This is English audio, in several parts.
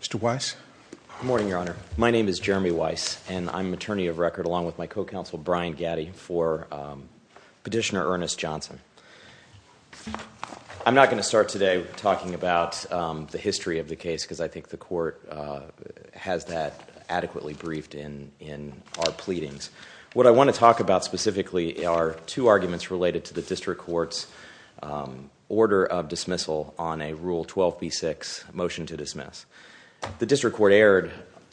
Mr. Weiss? Good morning, Your Honor. My name is Jeremy Weiss, and I'm an attorney of record along with my co-counsel, Brian Gaddy, for Petitioner Ernest Johnson. I'm not going to start today talking about the history of the case, because I think the Court has that adequately briefed in our pleadings. What I want to talk about specifically are two arguments related to the District Court's order of dismissal on a Rule 12b6 motion to dismiss. The District Court erred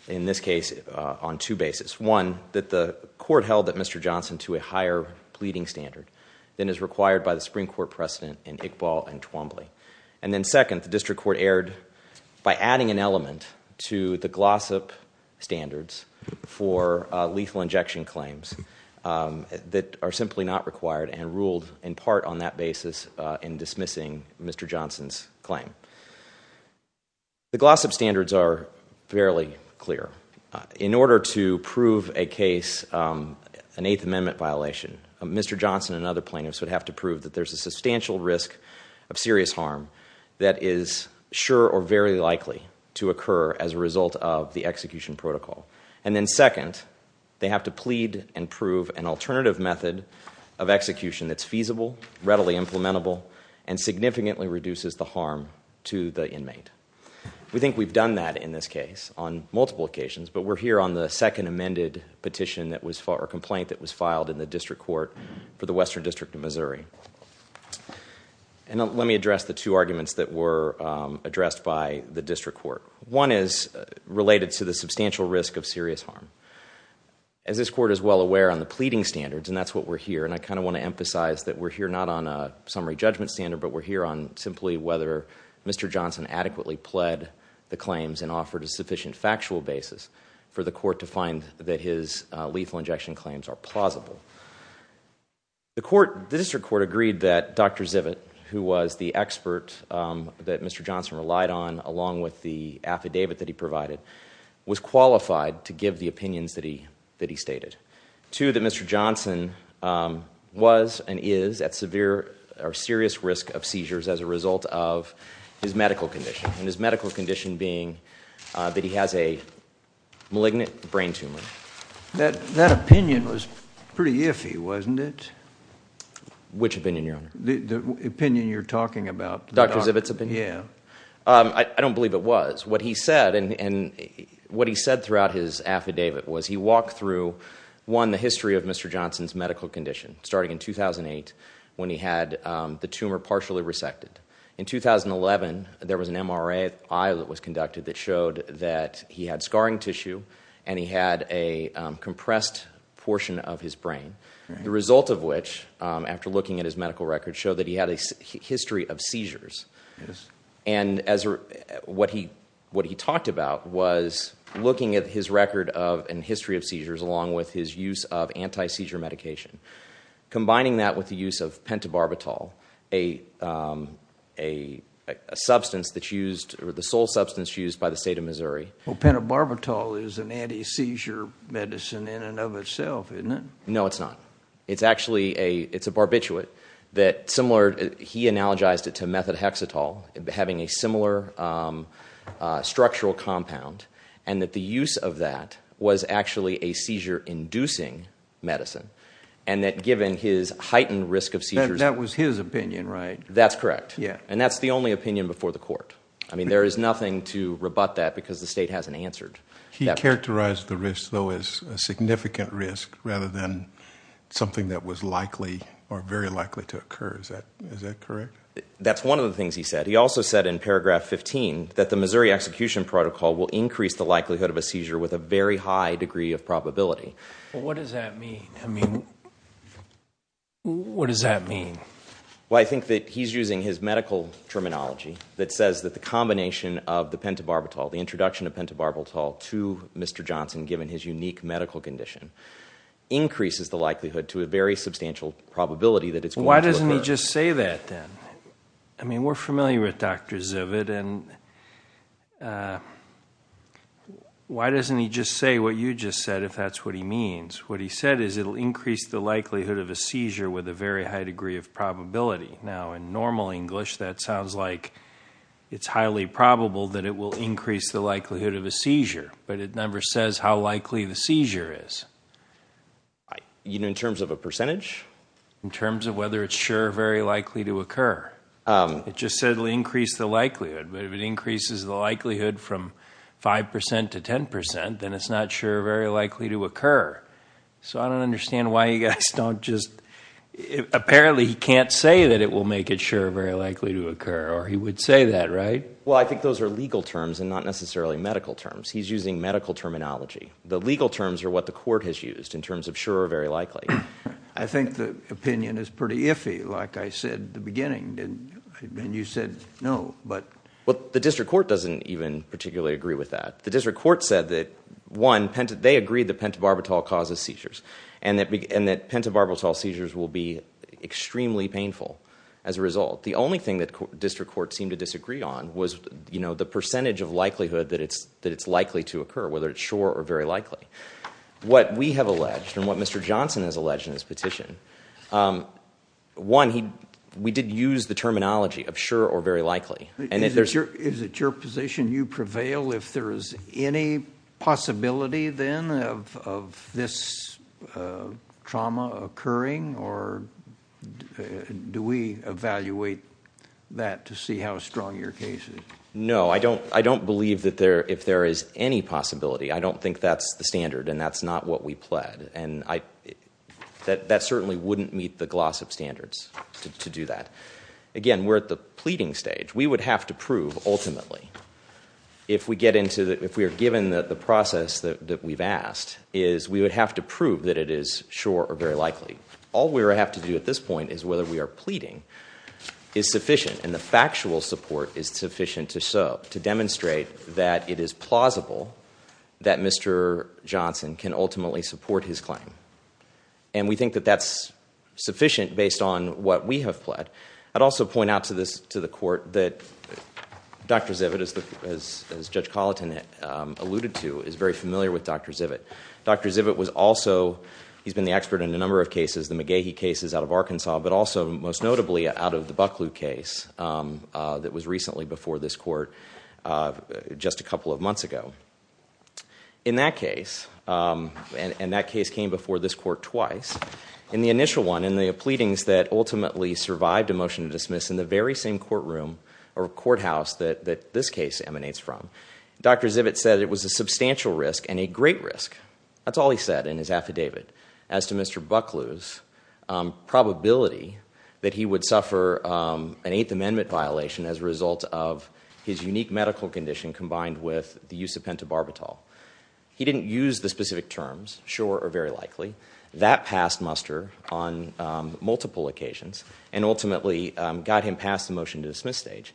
in this case on two bases. One, that the Court held that Mr. Johnson to a higher pleading standard than is required by the Supreme Court precedent in Iqbal and Twombly. And then second, the District Court erred by adding an element to the Glossop standards for lethal injection claims that are simply not required and ruled in part on that basis in dismissing Mr. Johnson's claim. The Glossop standards are fairly clear. In order to prove a case, an Eighth Amendment violation, Mr. Johnson and other plaintiffs would have to prove that there's a substantial risk of serious harm that is sure or very likely to occur as a result of the execution protocol. And then second, they have to plead and prove an alternative method of execution that's feasible, readily implementable, and significantly reduces the harm to the inmate. We think we've done that in this case on multiple occasions, but we're here on the second amended petition or complaint that was filed in the District Court for the Western District of Missouri. And let me address the two arguments that were addressed by the District Court. One is related to the substantial risk of serious harm. As this court is well aware on the pleading standards, and that's what we're here, and I kind of want to emphasize that we're here not on a summary judgment standard, but we're here on simply whether Mr. Johnson adequately pled the claims and offered a sufficient factual basis for the court to find that his lethal injection claims are plausible. The District Court agreed that Dr. Zivit, who was the expert that Mr. Johnson relied on along with the affidavit that he provided, was qualified to give the opinions that he stated. Two, that Mr. Johnson was and is at severe or serious risk of seizures as a result of his medical condition, and his medical condition being that he has a malignant brain tumor. That opinion was pretty iffy, wasn't it? Which opinion, Your Honor? The opinion you're talking about. Dr. Zivit's opinion? Yeah. I don't believe it was. What he said throughout his affidavit was he walked through, one, the history of Mr. Johnson's medical condition starting in 2008 when he had the tumor partially resected. In 2011, there was an MRI that was conducted that showed that he had scarring tissue and he had a compressed portion of his brain, the result of which, after looking at his medical record, showed that he had a history of seizures. Yes. What he talked about was looking at his record and history of seizures along with his use of anti-seizure medication, combining that with the use of pentobarbital, a substance that's used, the sole substance used by the state of Missouri. Pentobarbital is an anti-seizure medicine in and of itself, isn't it? No, it's not. It's actually a barbiturate that, similar, he analogized it to methotrexatol, having a similar structural compound, and that the use of that was actually a seizure-inducing medicine, and that given his heightened risk of seizures— That was his opinion, right? That's correct. Yeah. And that's the only opinion before the court. I mean, there is nothing to rebut that because the state hasn't answered. He characterized the risk, though, as a significant risk rather than something that was likely or very likely to occur. Is that correct? That's one of the things he said. He also said in paragraph 15 that the Missouri execution protocol will increase the likelihood of a seizure with a very high degree of probability. What does that mean? I mean, what does that mean? Well, I think that he's using his medical terminology that says that the combination of the pentobarbital, the introduction of pentobarbital to Mr. Johnson given his unique medical condition, increases the likelihood to a very substantial probability that it's going to occur. Well, why doesn't he just say that then? I mean, we're familiar with Dr. Zivit, and why doesn't he just say what you just said if that's what he means? What he said is it'll increase the likelihood of a seizure with a very high degree of probability. Now, in normal English, that sounds like it's highly probable that it will increase the likelihood of a seizure, but it never says how likely the seizure is. In terms of a percentage? In terms of whether it's sure or very likely to occur. It just said it'll increase the likelihood, but if it increases the likelihood from 5% to 10%, then it's not sure or very likely to occur. So I don't understand why you guys don't just – apparently he can't say that it will make it sure or very likely to occur, or he would say that, right? Well, I think those are legal terms and not necessarily medical terms. He's using medical terminology. The legal terms are what the court has used in terms of sure or very likely. I think the opinion is pretty iffy, like I said at the beginning, and you said no. Well, the district court doesn't even particularly agree with that. The district court said that, one, they agreed that pentobarbital causes seizures and that pentobarbital seizures will be extremely painful as a result. The only thing that the district court seemed to disagree on was the percentage of likelihood that it's likely to occur, whether it's sure or very likely. What we have alleged and what Mr. Johnson has alleged in his petition, one, we did use the terminology of sure or very likely. Is it your position you prevail if there is any possibility then of this trauma occurring, or do we evaluate that to see how strong your case is? No, I don't believe that there – if there is any possibility. I don't think that's the standard, and that's not what we pled, and that certainly wouldn't meet the GLOSSIP standards to do that. Again, we're at the pleading stage. We would have to prove ultimately if we get into – if we are given the process that we've asked is we would have to prove that it is sure or very likely. All we would have to do at this point is whether we are pleading is sufficient, and the factual support is sufficient to show, to demonstrate that it is plausible that Mr. Johnson can ultimately support his claim. And we think that that's sufficient based on what we have pled. I'd also point out to the court that Dr. Zivit, as Judge Colleton alluded to, is very familiar with Dr. Zivit. Dr. Zivit was also – he's been the expert in a number of cases, the McGehee cases out of Arkansas, but also most notably out of the Bucklew case that was recently before this court just a couple of months ago. In that case, and that case came before this court twice, in the initial one, in the pleadings that ultimately survived a motion to dismiss in the very same courtroom or courthouse that this case emanates from, Dr. Zivit said it was a substantial risk and a great risk. That's all he said in his affidavit as to Mr. Bucklew's probability that he would suffer an Eighth Amendment violation as a result of his unique medical condition combined with the use of pentobarbital. He didn't use the specific terms, sure or very likely. That passed muster on multiple occasions and ultimately got him past the motion to dismiss stage.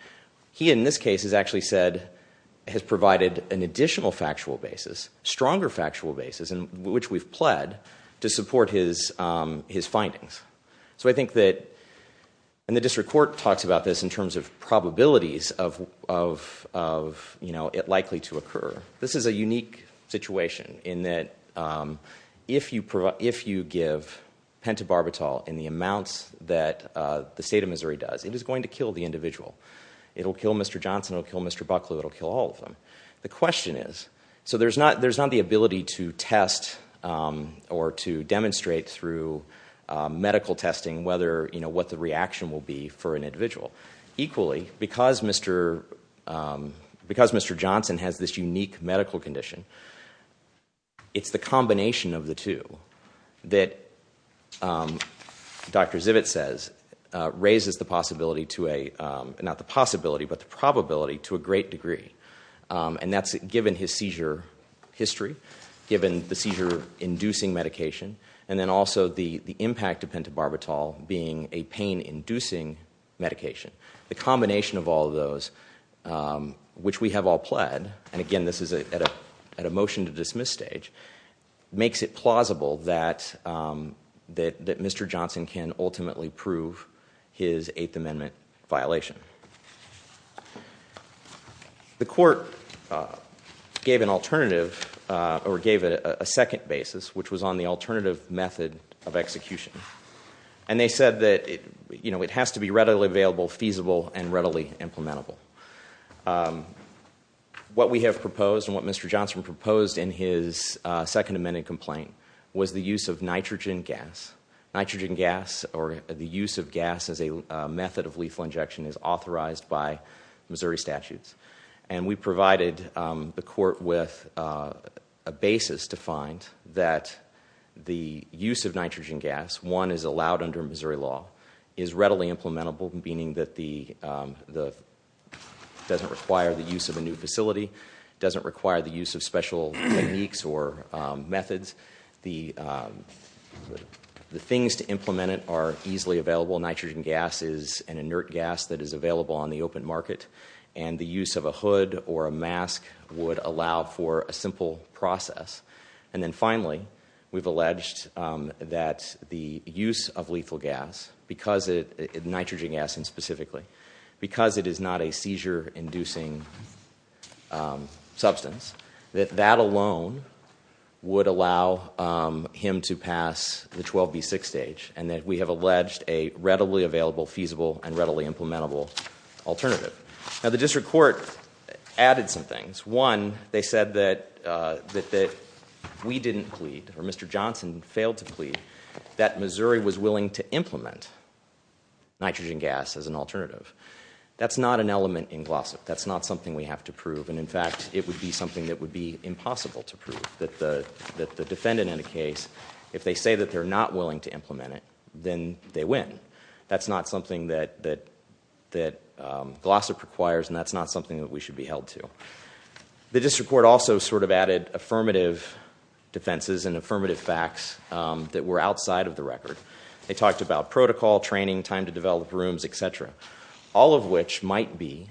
He in this case has actually said – has provided an additional factual basis, stronger factual basis, which we've pled, to support his findings. So I think that – and the district court talks about this in terms of probabilities of it likely to occur. This is a unique situation in that if you give pentobarbital in the amounts that the state of Missouri does, it is going to kill the individual. It'll kill Mr. Johnson. It'll kill Mr. Bucklew. It'll kill all of them. The question is – so there's not the ability to test or to demonstrate through medical testing whether – what the reaction will be for an individual. Equally, because Mr. Johnson has this unique medical condition, it's the combination of the two that Dr. Zivit says raises the possibility to a – not the possibility, but the probability to a great degree. And that's given his seizure history, given the seizure-inducing medication, and then also the impact of pentobarbital being a pain-inducing medication. The combination of all of those, which we have all pled – and again, this is at a motion to dismiss stage – makes it plausible that Mr. Johnson can ultimately prove his Eighth Amendment violation. The court gave an alternative – or gave a second basis, which was on the alternative method of execution. And they said that it has to be readily available, feasible, and readily implementable. What we have proposed, and what Mr. Johnson proposed in his Second Amendment complaint, was the use of nitrogen gas. Nitrogen gas, or the use of gas as a method of lethal injection, is authorized by Missouri statutes. And we provided the court with a basis to find that the use of nitrogen gas, one, is allowed under Missouri law, is readily implementable, meaning that the – doesn't require the use of a new facility, doesn't require the use of special techniques or methods. The things to implement it are easily available. Nitrogen gas is an inert gas that is available on the open market, and the use of a hood or a mask would allow for a simple process. And then finally, we've alleged that the use of lethal gas, nitrogen gas specifically, because it is not a seizure-inducing substance, that that alone would allow him to pass the 12B6 stage. And that we have alleged a readily available, feasible, and readily implementable alternative. Now the district court added some things. One, they said that we didn't plead, or Mr. Johnson failed to plead, that Missouri was willing to implement nitrogen gas as an alternative. That's not an element in Glossop. That's not something we have to prove, and in fact, it would be something that would be impossible to prove. That the defendant in the case, if they say that they're not willing to implement it, then they win. That's not something that Glossop requires, and that's not something that we should be held to. The district court also sort of added affirmative defenses and affirmative facts that were outside of the record. They talked about protocol, training, time to develop rooms, etc. All of which might be,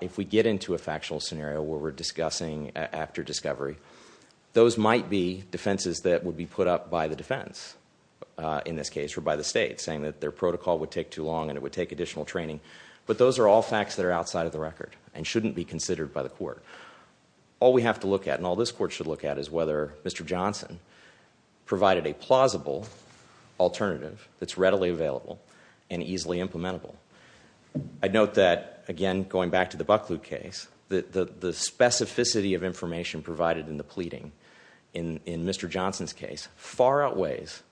if we get into a factual scenario where we're discussing after discovery, those might be defenses that would be put up by the defense. In this case, or by the state, saying that their protocol would take too long and it would take additional training. Those are all facts that are outside of the record and shouldn't be considered by the court. All we have to look at, and all this court should look at, is whether Mr. Johnson provided a plausible alternative that's readily available and easily implementable. I note that, again, going back to the Bucklew case, the specificity of information provided in the pleading in Mr. Johnson's case far outweighs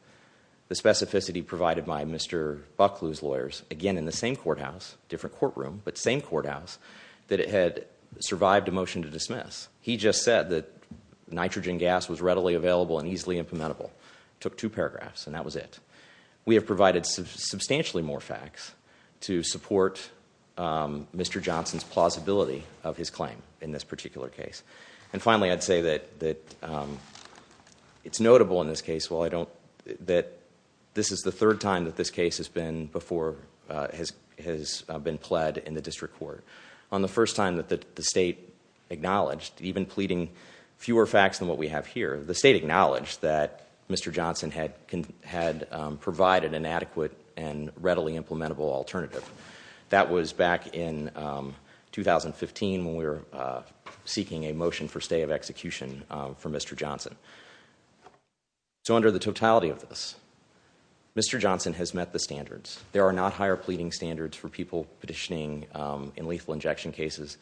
the specificity provided by Mr. Bucklew's lawyers. Again, in the same courthouse, different courtroom, but same courthouse, that it had survived a motion to dismiss. He just said that nitrogen gas was readily available and easily implementable. Took two paragraphs, and that was it. We have provided substantially more facts to support Mr. Johnson's plausibility of his claim in this particular case. Finally, I'd say that it's notable in this case that this is the third time that this case has been plead in the district court. On the first time that the state acknowledged, even pleading fewer facts than what we have here, the state acknowledged that Mr. Johnson had provided an adequate and readily implementable alternative. That was back in 2015 when we were seeking a motion for stay of execution for Mr. Johnson. Under the totality of this, Mr. Johnson has met the standards. There are not higher pleading standards for people petitioning in lethal injection cases.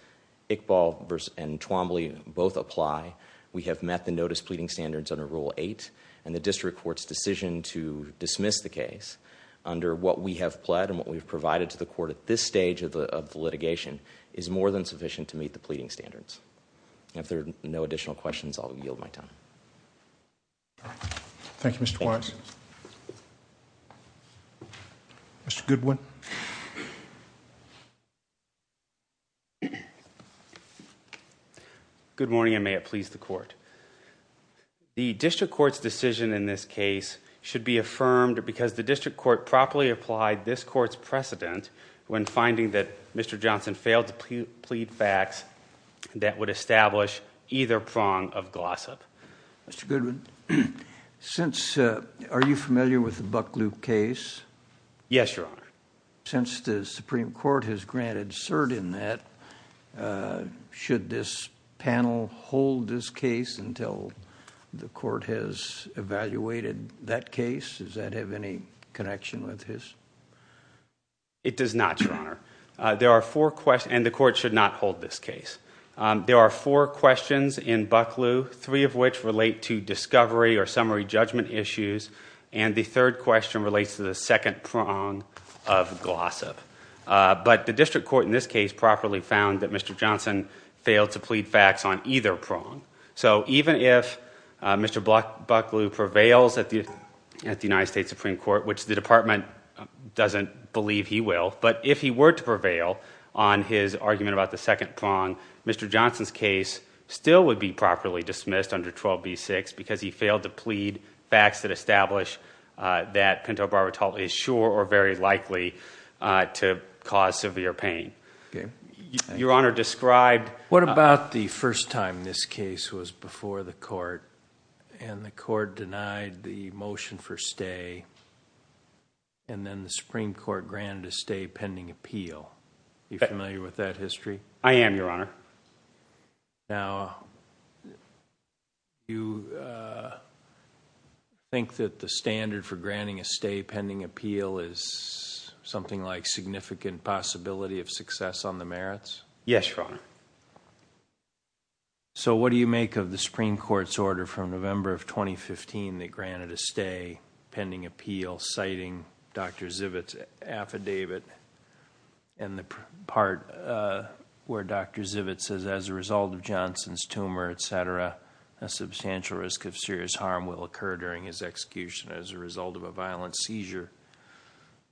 Iqbal and Twombly both apply. We have met the notice pleading standards under Rule 8, and the district court's decision to dismiss the case under what we have pled and what we've provided to the court at this stage of the litigation is more than sufficient to meet the pleading standards. If there are no additional questions, I'll yield my time. Thank you, Mr. Weiss. Mr. Goodwin. Good morning, and may it please the court. The district court's decision in this case should be affirmed because the district court properly applied this court's precedent when finding that Mr. Johnson failed to plead facts that would establish either prong of gossip. Mr. Goodwin, are you familiar with the Bucklew case? Yes, Your Honor. Since the Supreme Court has granted cert in that, should this panel hold this case until the court has evaluated that case? Does that have any connection with his? It does not, Your Honor, and the court should not hold this case. There are four questions in Bucklew, three of which relate to discovery or summary judgment issues, and the third question relates to the second prong of gossip. But the district court in this case properly found that Mr. Johnson failed to plead facts on either prong. So even if Mr. Bucklew prevails at the United States Supreme Court, which the department doesn't believe he will, but if he were to prevail on his argument about the second prong, Mr. Johnson's case still would be properly dismissed under 12b-6 because he failed to plead facts that establish that Pinto Barbatal is sure or very likely to cause severe pain. Your Honor described- What about the first time this case was before the court and the court denied the motion for stay and then the Supreme Court granted a stay pending appeal? Are you familiar with that history? I am, Your Honor. Now, you think that the standard for granting a stay pending appeal is something like significant possibility of success on the merits? Yes, Your Honor. So what do you make of the Supreme Court's order from November of 2015 that granted a stay pending appeal, citing Dr. Zivit's affidavit and the part where Dr. Zivit says, as a result of Johnson's tumor, et cetera, a substantial risk of serious harm will occur during his execution as a result of a violent seizure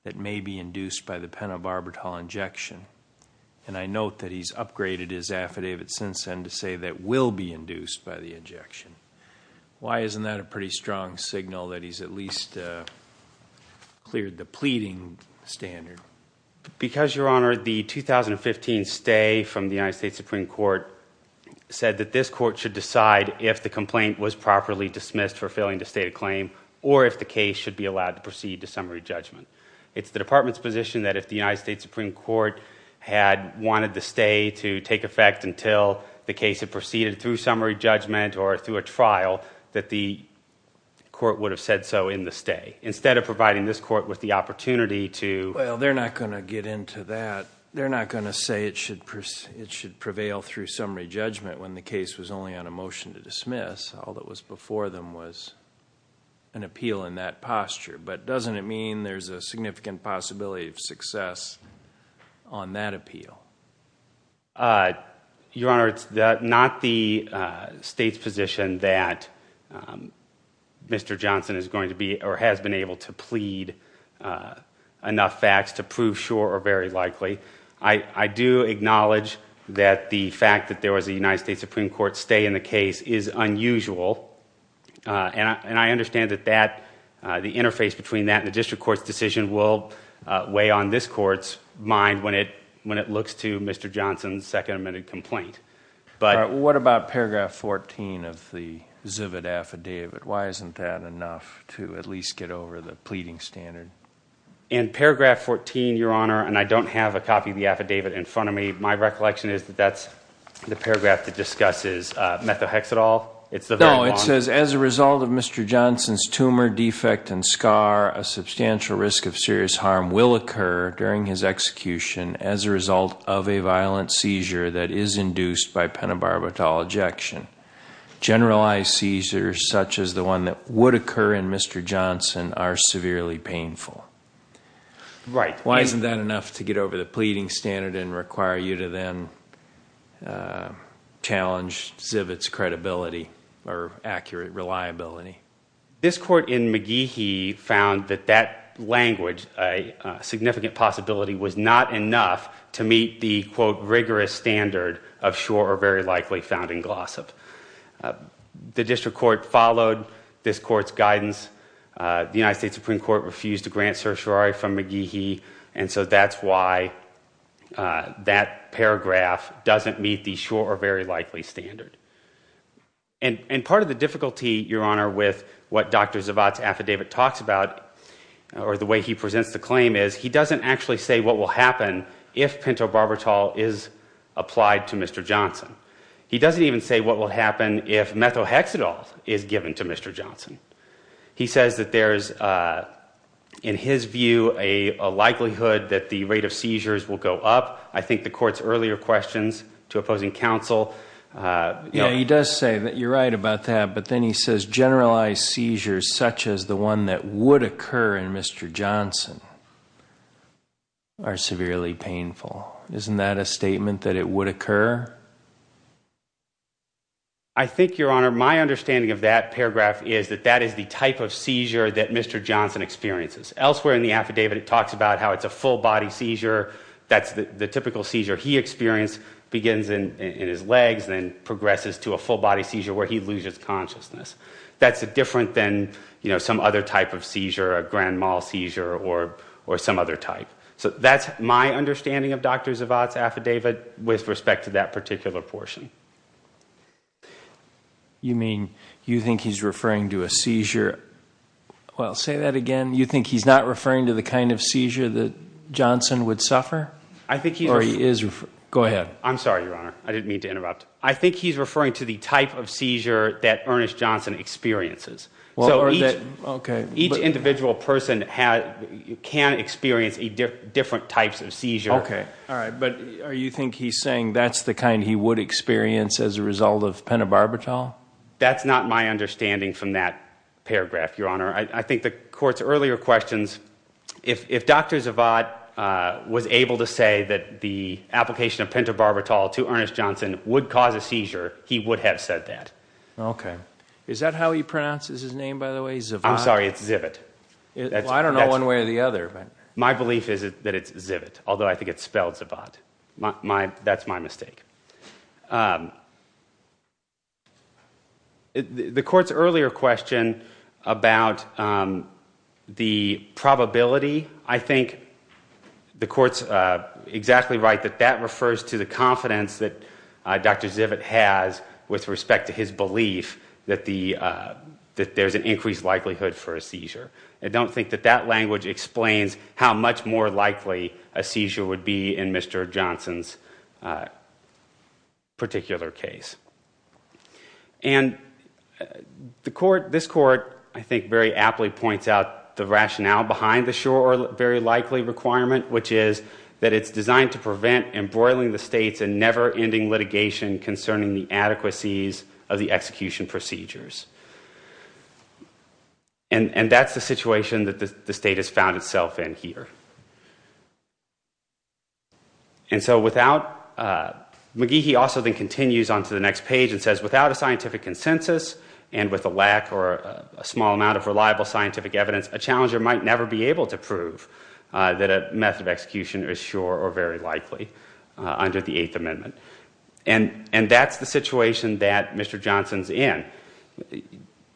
that may be induced by the Pinto Barbatal injection? And I note that he's upgraded his affidavit since then to say that will be induced by the injection. Why isn't that a pretty strong signal that he's at least cleared the pleading standard? Because, Your Honor, the 2015 stay from the United States Supreme Court said that this court should decide if the complaint was properly dismissed for failing to state a claim or if the case should be allowed to proceed to summary judgment. It's the Department's position that if the United States Supreme Court had wanted the stay to take effect until the case had proceeded through summary judgment or through a trial, that the court would have said so in the stay. Instead of providing this court with the opportunity to— Well, they're not going to get into that. They're not going to say it should prevail through summary judgment when the case was only on a motion to dismiss. All that was before them was an appeal in that posture. But doesn't it mean there's a significant possibility of success on that appeal? Your Honor, it's not the state's position that Mr. Johnson is going to be or has been able to plead enough facts to prove sure or very likely. I do acknowledge that the fact that there was a United States Supreme Court stay in the case is unusual. And I understand that the interface between that and the district court's decision will weigh on this court's mind when it looks to Mr. Johnson's second amended complaint. What about paragraph 14 of the Zivit affidavit? Why isn't that enough to at least get over the pleading standard? In paragraph 14, Your Honor, and I don't have a copy of the affidavit in front of me, my recollection is that that's the paragraph that discusses methohexadol. No, it says, As a result of Mr. Johnson's tumor defect and scar, a substantial risk of serious harm will occur during his execution as a result of a violent seizure that is induced by pentobarbital ejection. Generalized seizures such as the one that would occur in Mr. Johnson are severely painful. Right. Why isn't that enough to get over the pleading standard and require you to then challenge Zivit's credibility or accurate reliability? This court in McGehee found that that language, a significant possibility, was not enough to meet the, quote, rigorous standard of sure or very likely found in Glossop. The district court followed this court's guidance. The United States Supreme Court refused to grant certiorari from McGehee, and so that's why that paragraph doesn't meet the sure or very likely standard. And part of the difficulty, Your Honor, with what Dr. Zivit's affidavit talks about or the way he presents the claim is he doesn't actually say what will happen if pentobarbital is applied to Mr. Johnson. He doesn't even say what will happen if methohexadol is given to Mr. Johnson. He says that there is, in his view, a likelihood that the rate of seizures will go up. I think the court's earlier questions to opposing counsel. Yeah, he does say that you're right about that, but then he says generalized seizures such as the one that would occur in Mr. Johnson are severely painful. Isn't that a statement that it would occur? I think, Your Honor, my understanding of that paragraph is that that is the type of seizure that Mr. Johnson experiences. Elsewhere in the affidavit it talks about how it's a full-body seizure. That's the typical seizure he experienced, begins in his legs, then progresses to a full-body seizure where he loses consciousness. That's different than some other type of seizure, a grand mal seizure or some other type. That's my understanding of Dr. Zavod's affidavit with respect to that particular portion. You mean you think he's referring to a seizure... Well, say that again. You think he's not referring to the kind of seizure that Johnson would suffer? Go ahead. I'm sorry, Your Honor. I didn't mean to interrupt. I think he's referring to the type of seizure that Ernest Johnson experiences. Each individual person can experience different types of seizure. But you think he's saying that's the kind he would experience as a result of pentobarbital? That's not my understanding from that paragraph, Your Honor. I think the Court's earlier questions, if Dr. Zavod was able to say that the application of pentobarbital to Ernest Johnson would cause a seizure, he would have said that. Is that how he pronounces his name, by the way, Zavod? I'm sorry, it's Zivit. I don't know one way or the other. My belief is that it's Zivit, although I think it's spelled Zavod. That's my mistake. The Court's earlier question about the probability, I think the Court's exactly right that that refers to the confidence that Dr. Zivit has with respect to his belief that there's an increased likelihood for a seizure. I don't think that that language explains how much more likely a seizure would be in Mr. Johnson's particular case. This Court, I think, very aptly points out the rationale behind the sure or very likely requirement, which is that it's designed to prevent embroiling the states in never-ending litigation concerning the adequacies of the execution procedures. And that's the situation that the state has found itself in here. McGehee also then continues on to the next page and says, without a scientific consensus and with a lack or a small amount of reliable scientific evidence, a challenger might never be able to prove that a method of execution is sure or very likely under the Eighth Amendment. And that's the situation that Mr. Johnson's in.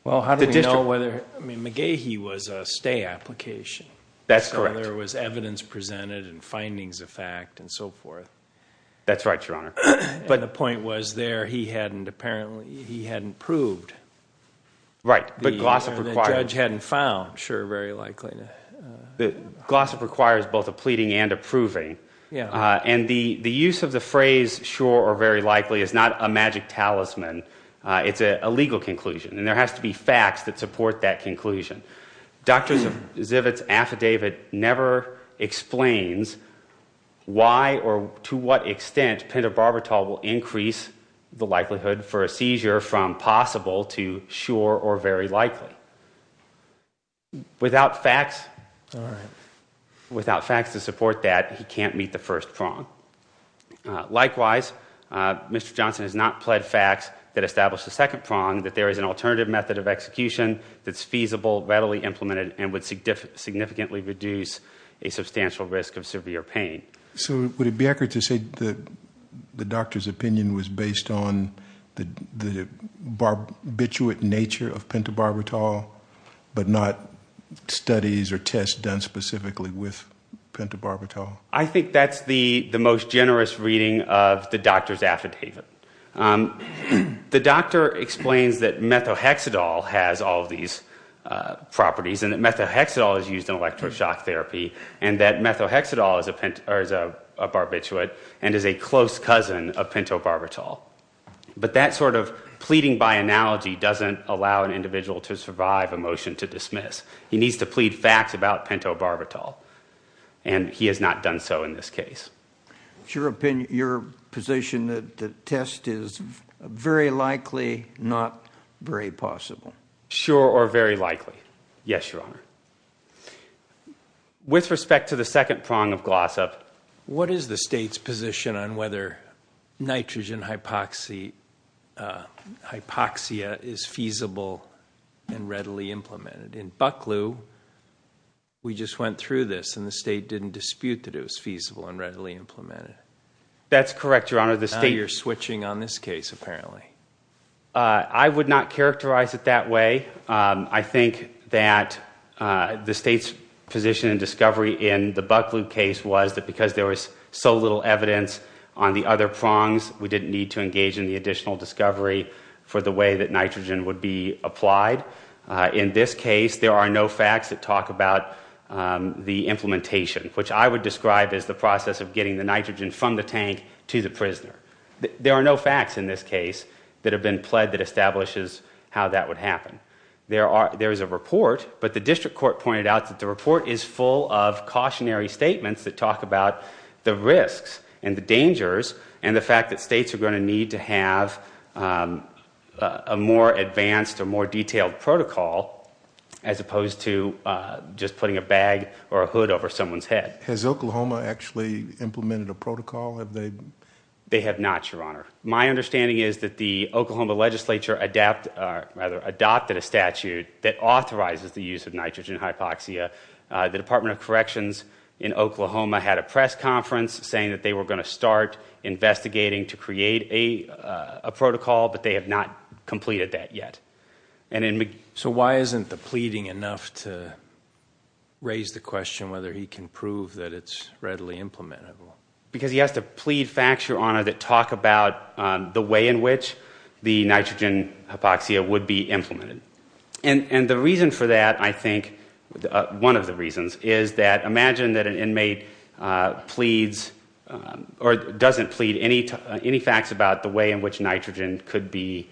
McGehee was a stay application. That's correct. So there was evidence presented and findings of fact and so forth. That's right, Your Honor. But the point was there he hadn't proved. Right. The judge hadn't found sure or very likely. Glossop requires both a pleading and a proving. And the use of the phrase sure or very likely is not a magic talisman. It's a legal conclusion. And there has to be facts that support that conclusion. Dr. Zivit's affidavit never explains why or to what extent Pender-Barbertol will increase the likelihood for a seizure from possible to sure or very likely. Without facts to support that, he can't meet the first prong. Likewise, Mr. Johnson has not pled facts that establish the second prong, that there is an alternative method of execution that's feasible, readily implemented, and would significantly reduce a substantial risk of severe pain. So would it be accurate to say the doctor's opinion was based on the barbiturate nature of Pender-Barbertol, but not studies or tests done specifically with Pender-Barbertol? I think that's the most generous reading of the doctor's affidavit. The doctor explains that methohexadol has all of these properties and that methohexadol is used in electroshock therapy and that methohexadol is a barbiturate and is a close cousin of Pender-Barbertol. But that sort of pleading by analogy doesn't allow an individual to survive a motion to dismiss. He needs to plead facts about Pender-Barbertol, and he has not done so in this case. Is your position that the test is very likely, not very possible? Sure or very likely. Yes, Your Honor. With respect to the second prong of Glossop... What is the state's position on whether nitrogen hypoxia is feasible and readily implemented? In Bucklew, we just went through this, and the state didn't dispute that it was feasible and readily implemented. That's correct, Your Honor. Now you're switching on this case, apparently. I would not characterize it that way. I think that the state's position and discovery in the Bucklew case was that because there was so little evidence on the other prongs, we didn't need to engage in the additional discovery for the way that nitrogen would be applied. In this case, there are no facts that talk about the implementation, which I would describe as the process of getting the nitrogen from the tank to the prisoner. There are no facts in this case that have been pled that establishes how that would happen. There is a report, but the district court pointed out that the report is full of cautionary statements that talk about the risks and the dangers and the fact that states are going to need to have a more advanced or more detailed protocol as opposed to just putting a bag or a hood over someone's head. Has Oklahoma actually implemented a protocol? They have not, Your Honor. My understanding is that the Oklahoma legislature adopted a statute that authorizes the use of nitrogen hypoxia. The Department of Corrections in Oklahoma had a press conference saying that they were going to start investigating to create a protocol, but they have not completed that yet. So why isn't the pleading enough to raise the question whether he can prove that it's readily implementable? Because he has to plead facts, Your Honor, that talk about the way in which the nitrogen hypoxia would be implemented. And the reason for that, I think, one of the reasons, is that imagine that an inmate pleads or doesn't plead any facts about the way in which nitrogen could be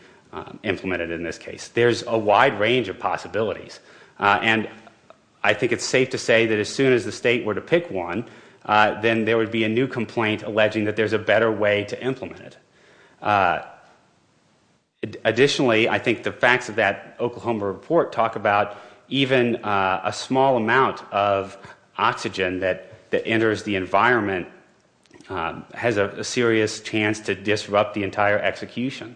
implemented in this case. There's a wide range of possibilities, and I think it's safe to say that as soon as the state were to pick one, then there would be a new complaint alleging that there's a better way to implement it. Additionally, I think the facts of that Oklahoma report talk about even a small amount of oxygen that enters the environment has a serious chance to disrupt the entire execution.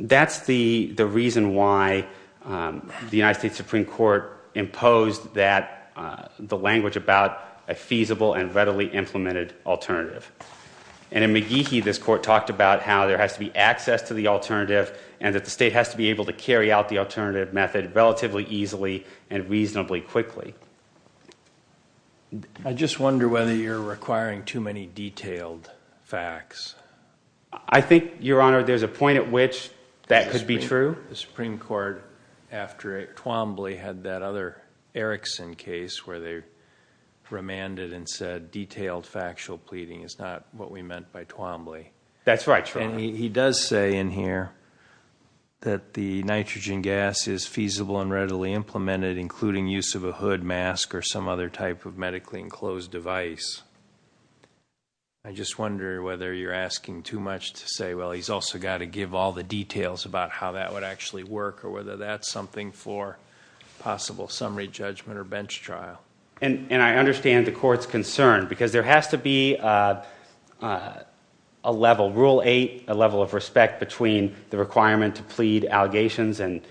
That's the reason why the United States Supreme Court imposed the language about a feasible and readily implemented alternative. And in McGehee, this court talked about how there has to be access to the alternative and that the state has to be able to carry out the alternative method relatively easily and reasonably quickly. I just wonder whether you're requiring too many detailed facts. I think, Your Honor, there's a point at which that could be true. The Supreme Court, after Twombly, had that other Erickson case where they remanded and said detailed factual pleading is not what we meant by Twombly. That's right, Your Honor. And he does say in here that the nitrogen gas is feasible and readily implemented, including use of a hood mask or some other type of medically enclosed device. I just wonder whether you're asking too much to say, well, he's also got to give all the details about how that would actually work or whether that's something for possible summary judgment or bench trial. And I understand the court's concern because there has to be a level, Rule 8, a level of respect between the requirement to plead allegations and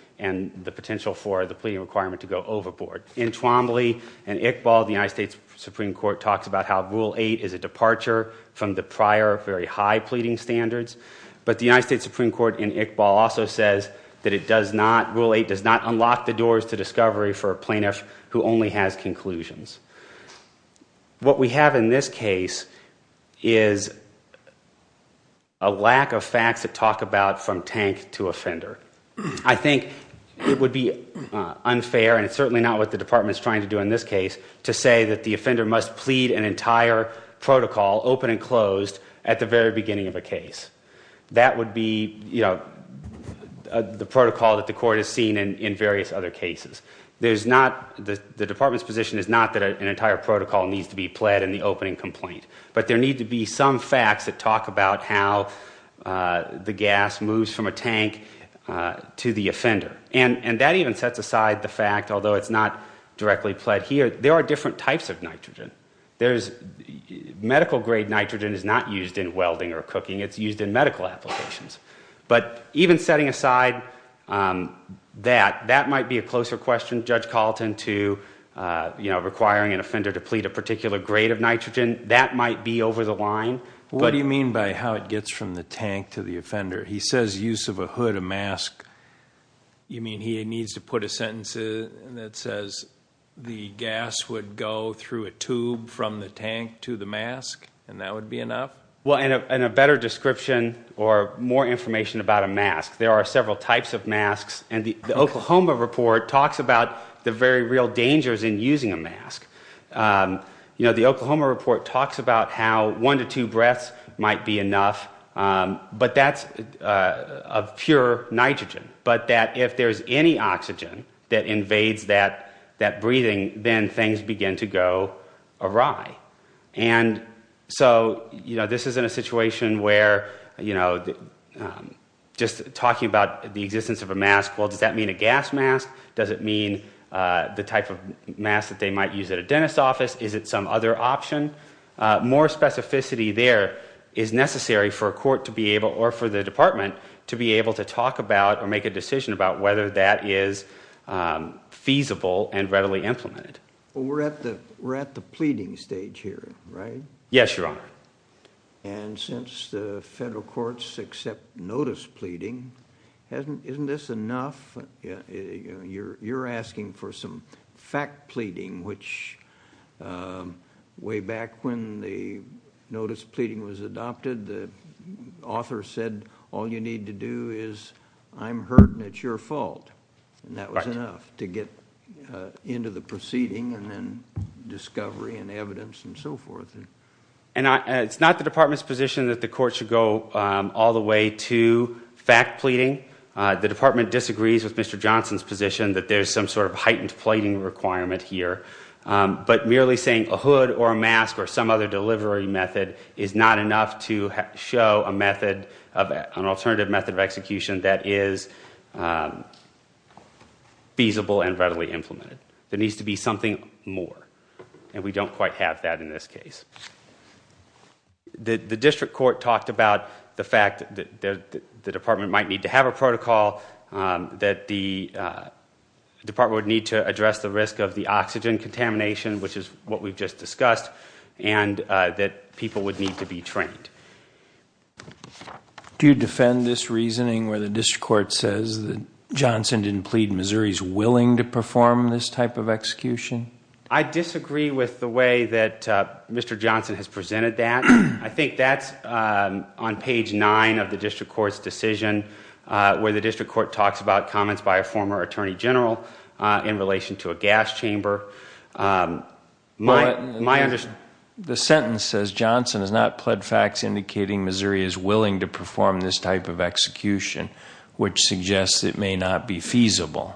the potential for the pleading requirement to go overboard. In Twombly and Iqbal, the United States Supreme Court talks about how Rule 8 is a departure from the prior very high pleading standards. But the United States Supreme Court in Iqbal also says that it does not, Rule 8 does not unlock the doors to discovery for a plaintiff who only has conclusions. What we have in this case is a lack of facts that talk about from tank to offender. I think it would be unfair, and it's certainly not what the Department's trying to do in this case, to say that the offender must plead an entire protocol, open and closed, at the very beginning of a case. That would be the protocol that the court has seen in various other cases. The Department's position is not that an entire protocol needs to be pled in the opening complaint. But there need to be some facts that talk about how the gas moves from a tank to the offender. And that even sets aside the fact, although it's not directly pled here, there are different types of nitrogen. Medical-grade nitrogen is not used in welding or cooking. It's used in medical applications. But even setting aside that, that might be a closer question, Judge Colleton, to requiring an offender to plead a particular grade of nitrogen. That might be over the line. What do you mean by how it gets from the tank to the offender? He says use of a hood, a mask. You mean he needs to put a sentence that says the gas would go through a tube from the tank to the mask, and that would be enough? Well, and a better description or more information about a mask. There are several types of masks. And the Oklahoma report talks about the very real dangers in using a mask. You know, the Oklahoma report talks about how one to two breaths might be enough. But that's of pure nitrogen. But that if there's any oxygen that invades that breathing, then things begin to go awry. And so, you know, this isn't a situation where, you know, just talking about the existence of a mask, well, does that mean a gas mask? Does it mean the type of mask that they might use at a dentist's office? Is it some other option? More specificity there is necessary for a court to be able, or for the department to be able to talk about or make a decision about whether that is feasible and readily implemented. Well, we're at the pleading stage here, right? Yes, Your Honor. And since the federal courts accept notice pleading, isn't this enough? You're asking for some fact pleading, which way back when the notice pleading was adopted, the author said all you need to do is I'm hurt and it's your fault. And that was enough to get into the proceeding and then discovery and evidence and so forth. And it's not the department's position that the court should go all the way to fact pleading. The department disagrees with Mr. Johnson's position that there's some sort of heightened pleading requirement here. But merely saying a hood or a mask or some other delivery method is not enough to show an alternative method of execution that is feasible and readily implemented. There needs to be something more, and we don't quite have that in this case. The district court talked about the fact that the department might need to have a protocol, that the department would need to address the risk of the oxygen contamination, which is what we've just discussed, and that people would need to be trained. Do you defend this reasoning where the district court says that Johnson didn't plead? Missouri's willing to perform this type of execution? I disagree with the way that Mr. Johnson has presented that. I think that's on page 9 of the district court's decision where the district court talks about comments by a former attorney general in relation to a gas chamber. The sentence says Johnson has not pled facts indicating Missouri is willing to perform this type of execution, which suggests it may not be feasible.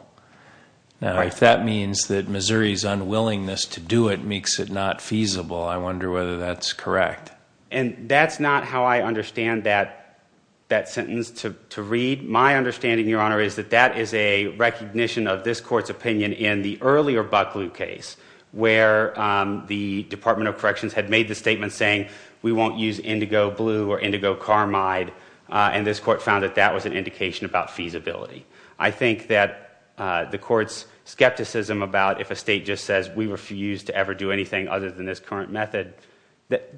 Now, if that means that Missouri's unwillingness to do it makes it not feasible, I wonder whether that's correct. And that's not how I understand that sentence to read. My understanding, Your Honor, is that that is a recognition of this court's opinion in the earlier Buckley case where the Department of Corrections had made the statement saying we won't use indigo blue or indigo carmide, and this court found that that was an indication about feasibility. I think that the court's skepticism about if a state just says we refuse to ever do anything other than this current method, that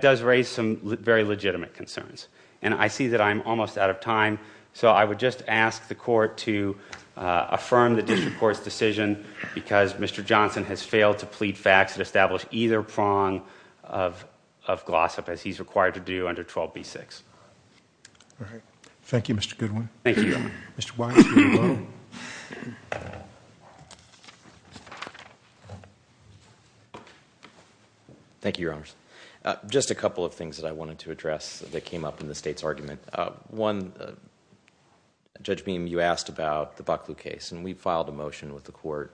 does raise some very legitimate concerns. And I see that I'm almost out of time, so I would just ask the court to affirm the district court's decision because Mr. Johnson has failed to plead facts that establish either prong of gloss-up, as he's required to do under 12b-6. All right. Thank you, Mr. Goodwin. Thank you, Your Honor. Mr. Weiss, you're alone. Thank you, Your Honor. Just a couple of things that I wanted to address that came up in the state's argument. One, Judge Beam, you asked about the Buckley case, and we filed a motion with the court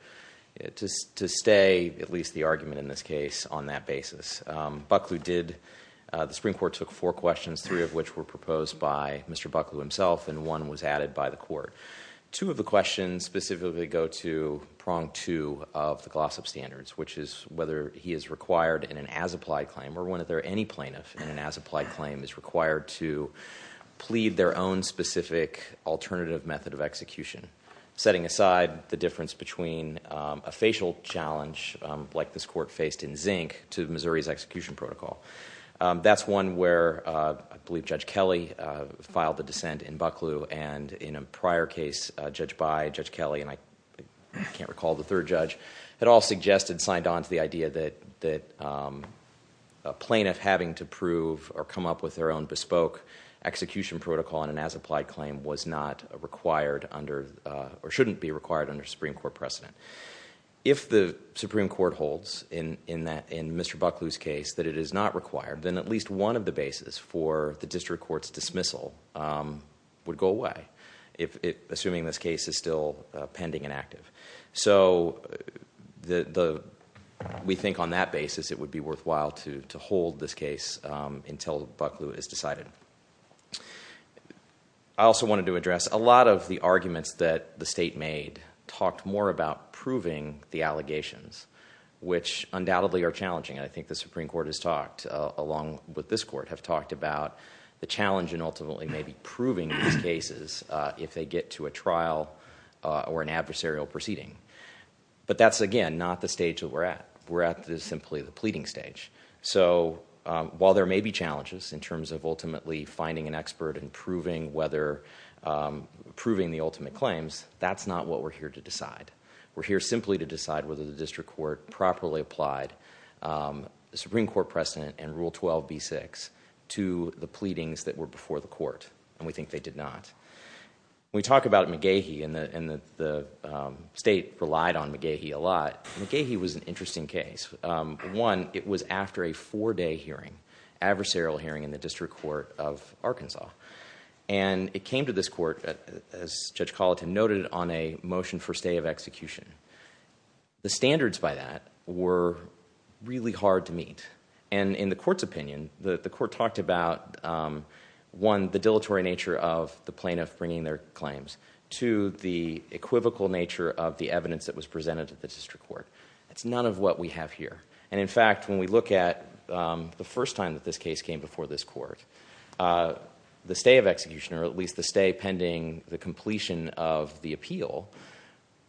to stay at least the argument in this case on that basis. Buckley did. The Supreme Court took four questions, three of which were proposed by Mr. Buckley himself, and one was added by the court. Two of the questions specifically go to prong two of the gloss-up standards, which is whether he is required in an as-applied claim or whether any plaintiff in an as-applied claim is required to plead their own specific alternative method of execution, setting aside the difference between a facial challenge, like this court faced in Zink, to Missouri's execution protocol. That's one where I believe Judge Kelly filed the dissent in Buckley, and in a prior case judged by Judge Kelly, and I can't recall the third judge, had all suggested and signed on to the idea that a plaintiff having to prove or come up with their own bespoke execution protocol in an as-applied claim was not required under or shouldn't be required under a Supreme Court precedent. If the Supreme Court holds in Mr. Buckley's case that it is not required, then at least one of the bases for the district court's dismissal would go away, assuming this case is still pending and active. So we think on that basis it would be worthwhile to hold this case until Buckley is decided. I also wanted to address a lot of the arguments that the state made talked more about proving the allegations, which undoubtedly are challenging. I think the Supreme Court has talked, along with this court, have talked about the challenge in ultimately maybe proving these cases if they get to a trial or an adversarial proceeding. But that's, again, not the stage that we're at. We're at simply the pleading stage. So while there may be challenges in terms of ultimately finding an expert and proving the ultimate claims, that's not what we're here to decide. We're here simply to decide whether the district court properly applied the Supreme Court precedent and Rule 12b-6 to the pleadings that were before the court, and we think they did not. We talk about McGehee, and the state relied on McGehee a lot. McGehee was an interesting case. One, it was after a four-day hearing, adversarial hearing in the district court of Arkansas. And it came to this court, as Judge Colleton noted, on a motion for stay of execution. The standards by that were really hard to meet. And in the court's opinion, the court talked about, one, the dilatory nature of the plaintiff bringing their claims, two, the equivocal nature of the evidence that was presented to the district court. That's none of what we have here. And, in fact, when we look at the first time that this case came before this court, the stay of execution, or at least the stay pending the completion of the appeal,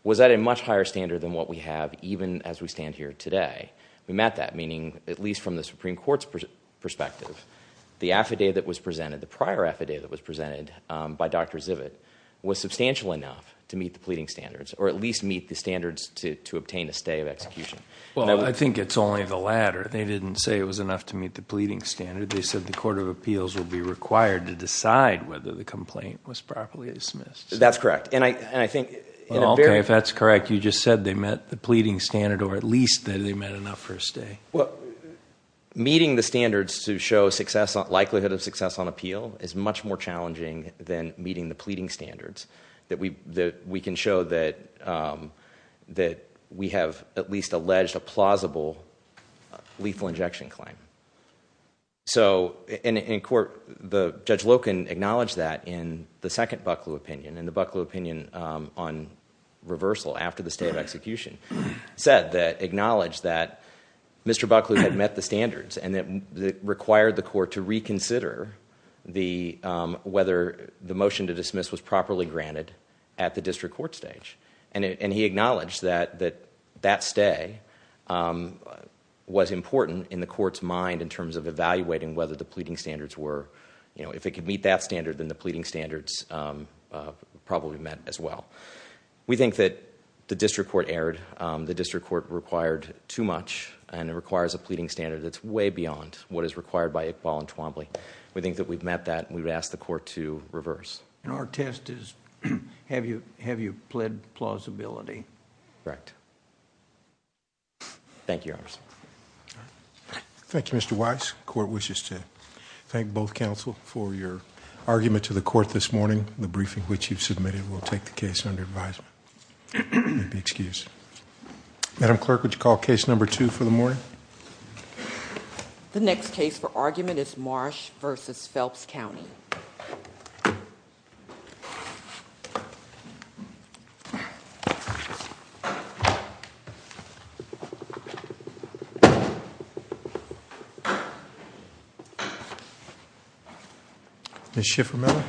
was at a much higher standard than what we have even as we stand here today. We met that, meaning, at least from the Supreme Court's perspective, the affidavit that was presented, the prior affidavit that was presented by Dr. Zivit, was substantial enough to meet the pleading standards, or at least meet the standards to obtain a stay of execution. Well, I think it's only the latter. They didn't say it was enough to meet the pleading standard. They said the court of appeals would be required to decide whether the complaint was properly dismissed. That's correct, and I think in a very— Okay, if that's correct, you just said they met the pleading standard or at least that they met enough for a stay. Meeting the standards to show likelihood of success on appeal is much more challenging than meeting the pleading standards that we can show that we have at least alleged a plausible lethal injection claim. So, in court, Judge Loken acknowledged that in the second Bucklew opinion, in the Bucklew opinion on reversal after the stay of execution, said that—acknowledged that Mr. Bucklew had met the standards and that it required the court to reconsider whether the motion to dismiss was properly granted at the district court stage. And he acknowledged that that stay was important in the court's mind in terms of evaluating whether the pleading standards were— if it could meet that standard, then the pleading standards probably met as well. We think that the district court erred. The district court required too much, and it requires a pleading standard that's way beyond what is required by Iqbal and Twombly. We think that we've met that, and we would ask the court to reverse. And our test is, have you pled plausibility? Correct. Thank you, Your Honors. Thank you, Mr. Weiss. Court wishes to thank both counsel for your argument to the court this morning. The briefing which you've submitted will take the case under advisement. You may be excused. Madam Clerk, would you call case number two for the morning? The next case for argument is Marsh v. Phelps County. Ms. Schiffer-Miller?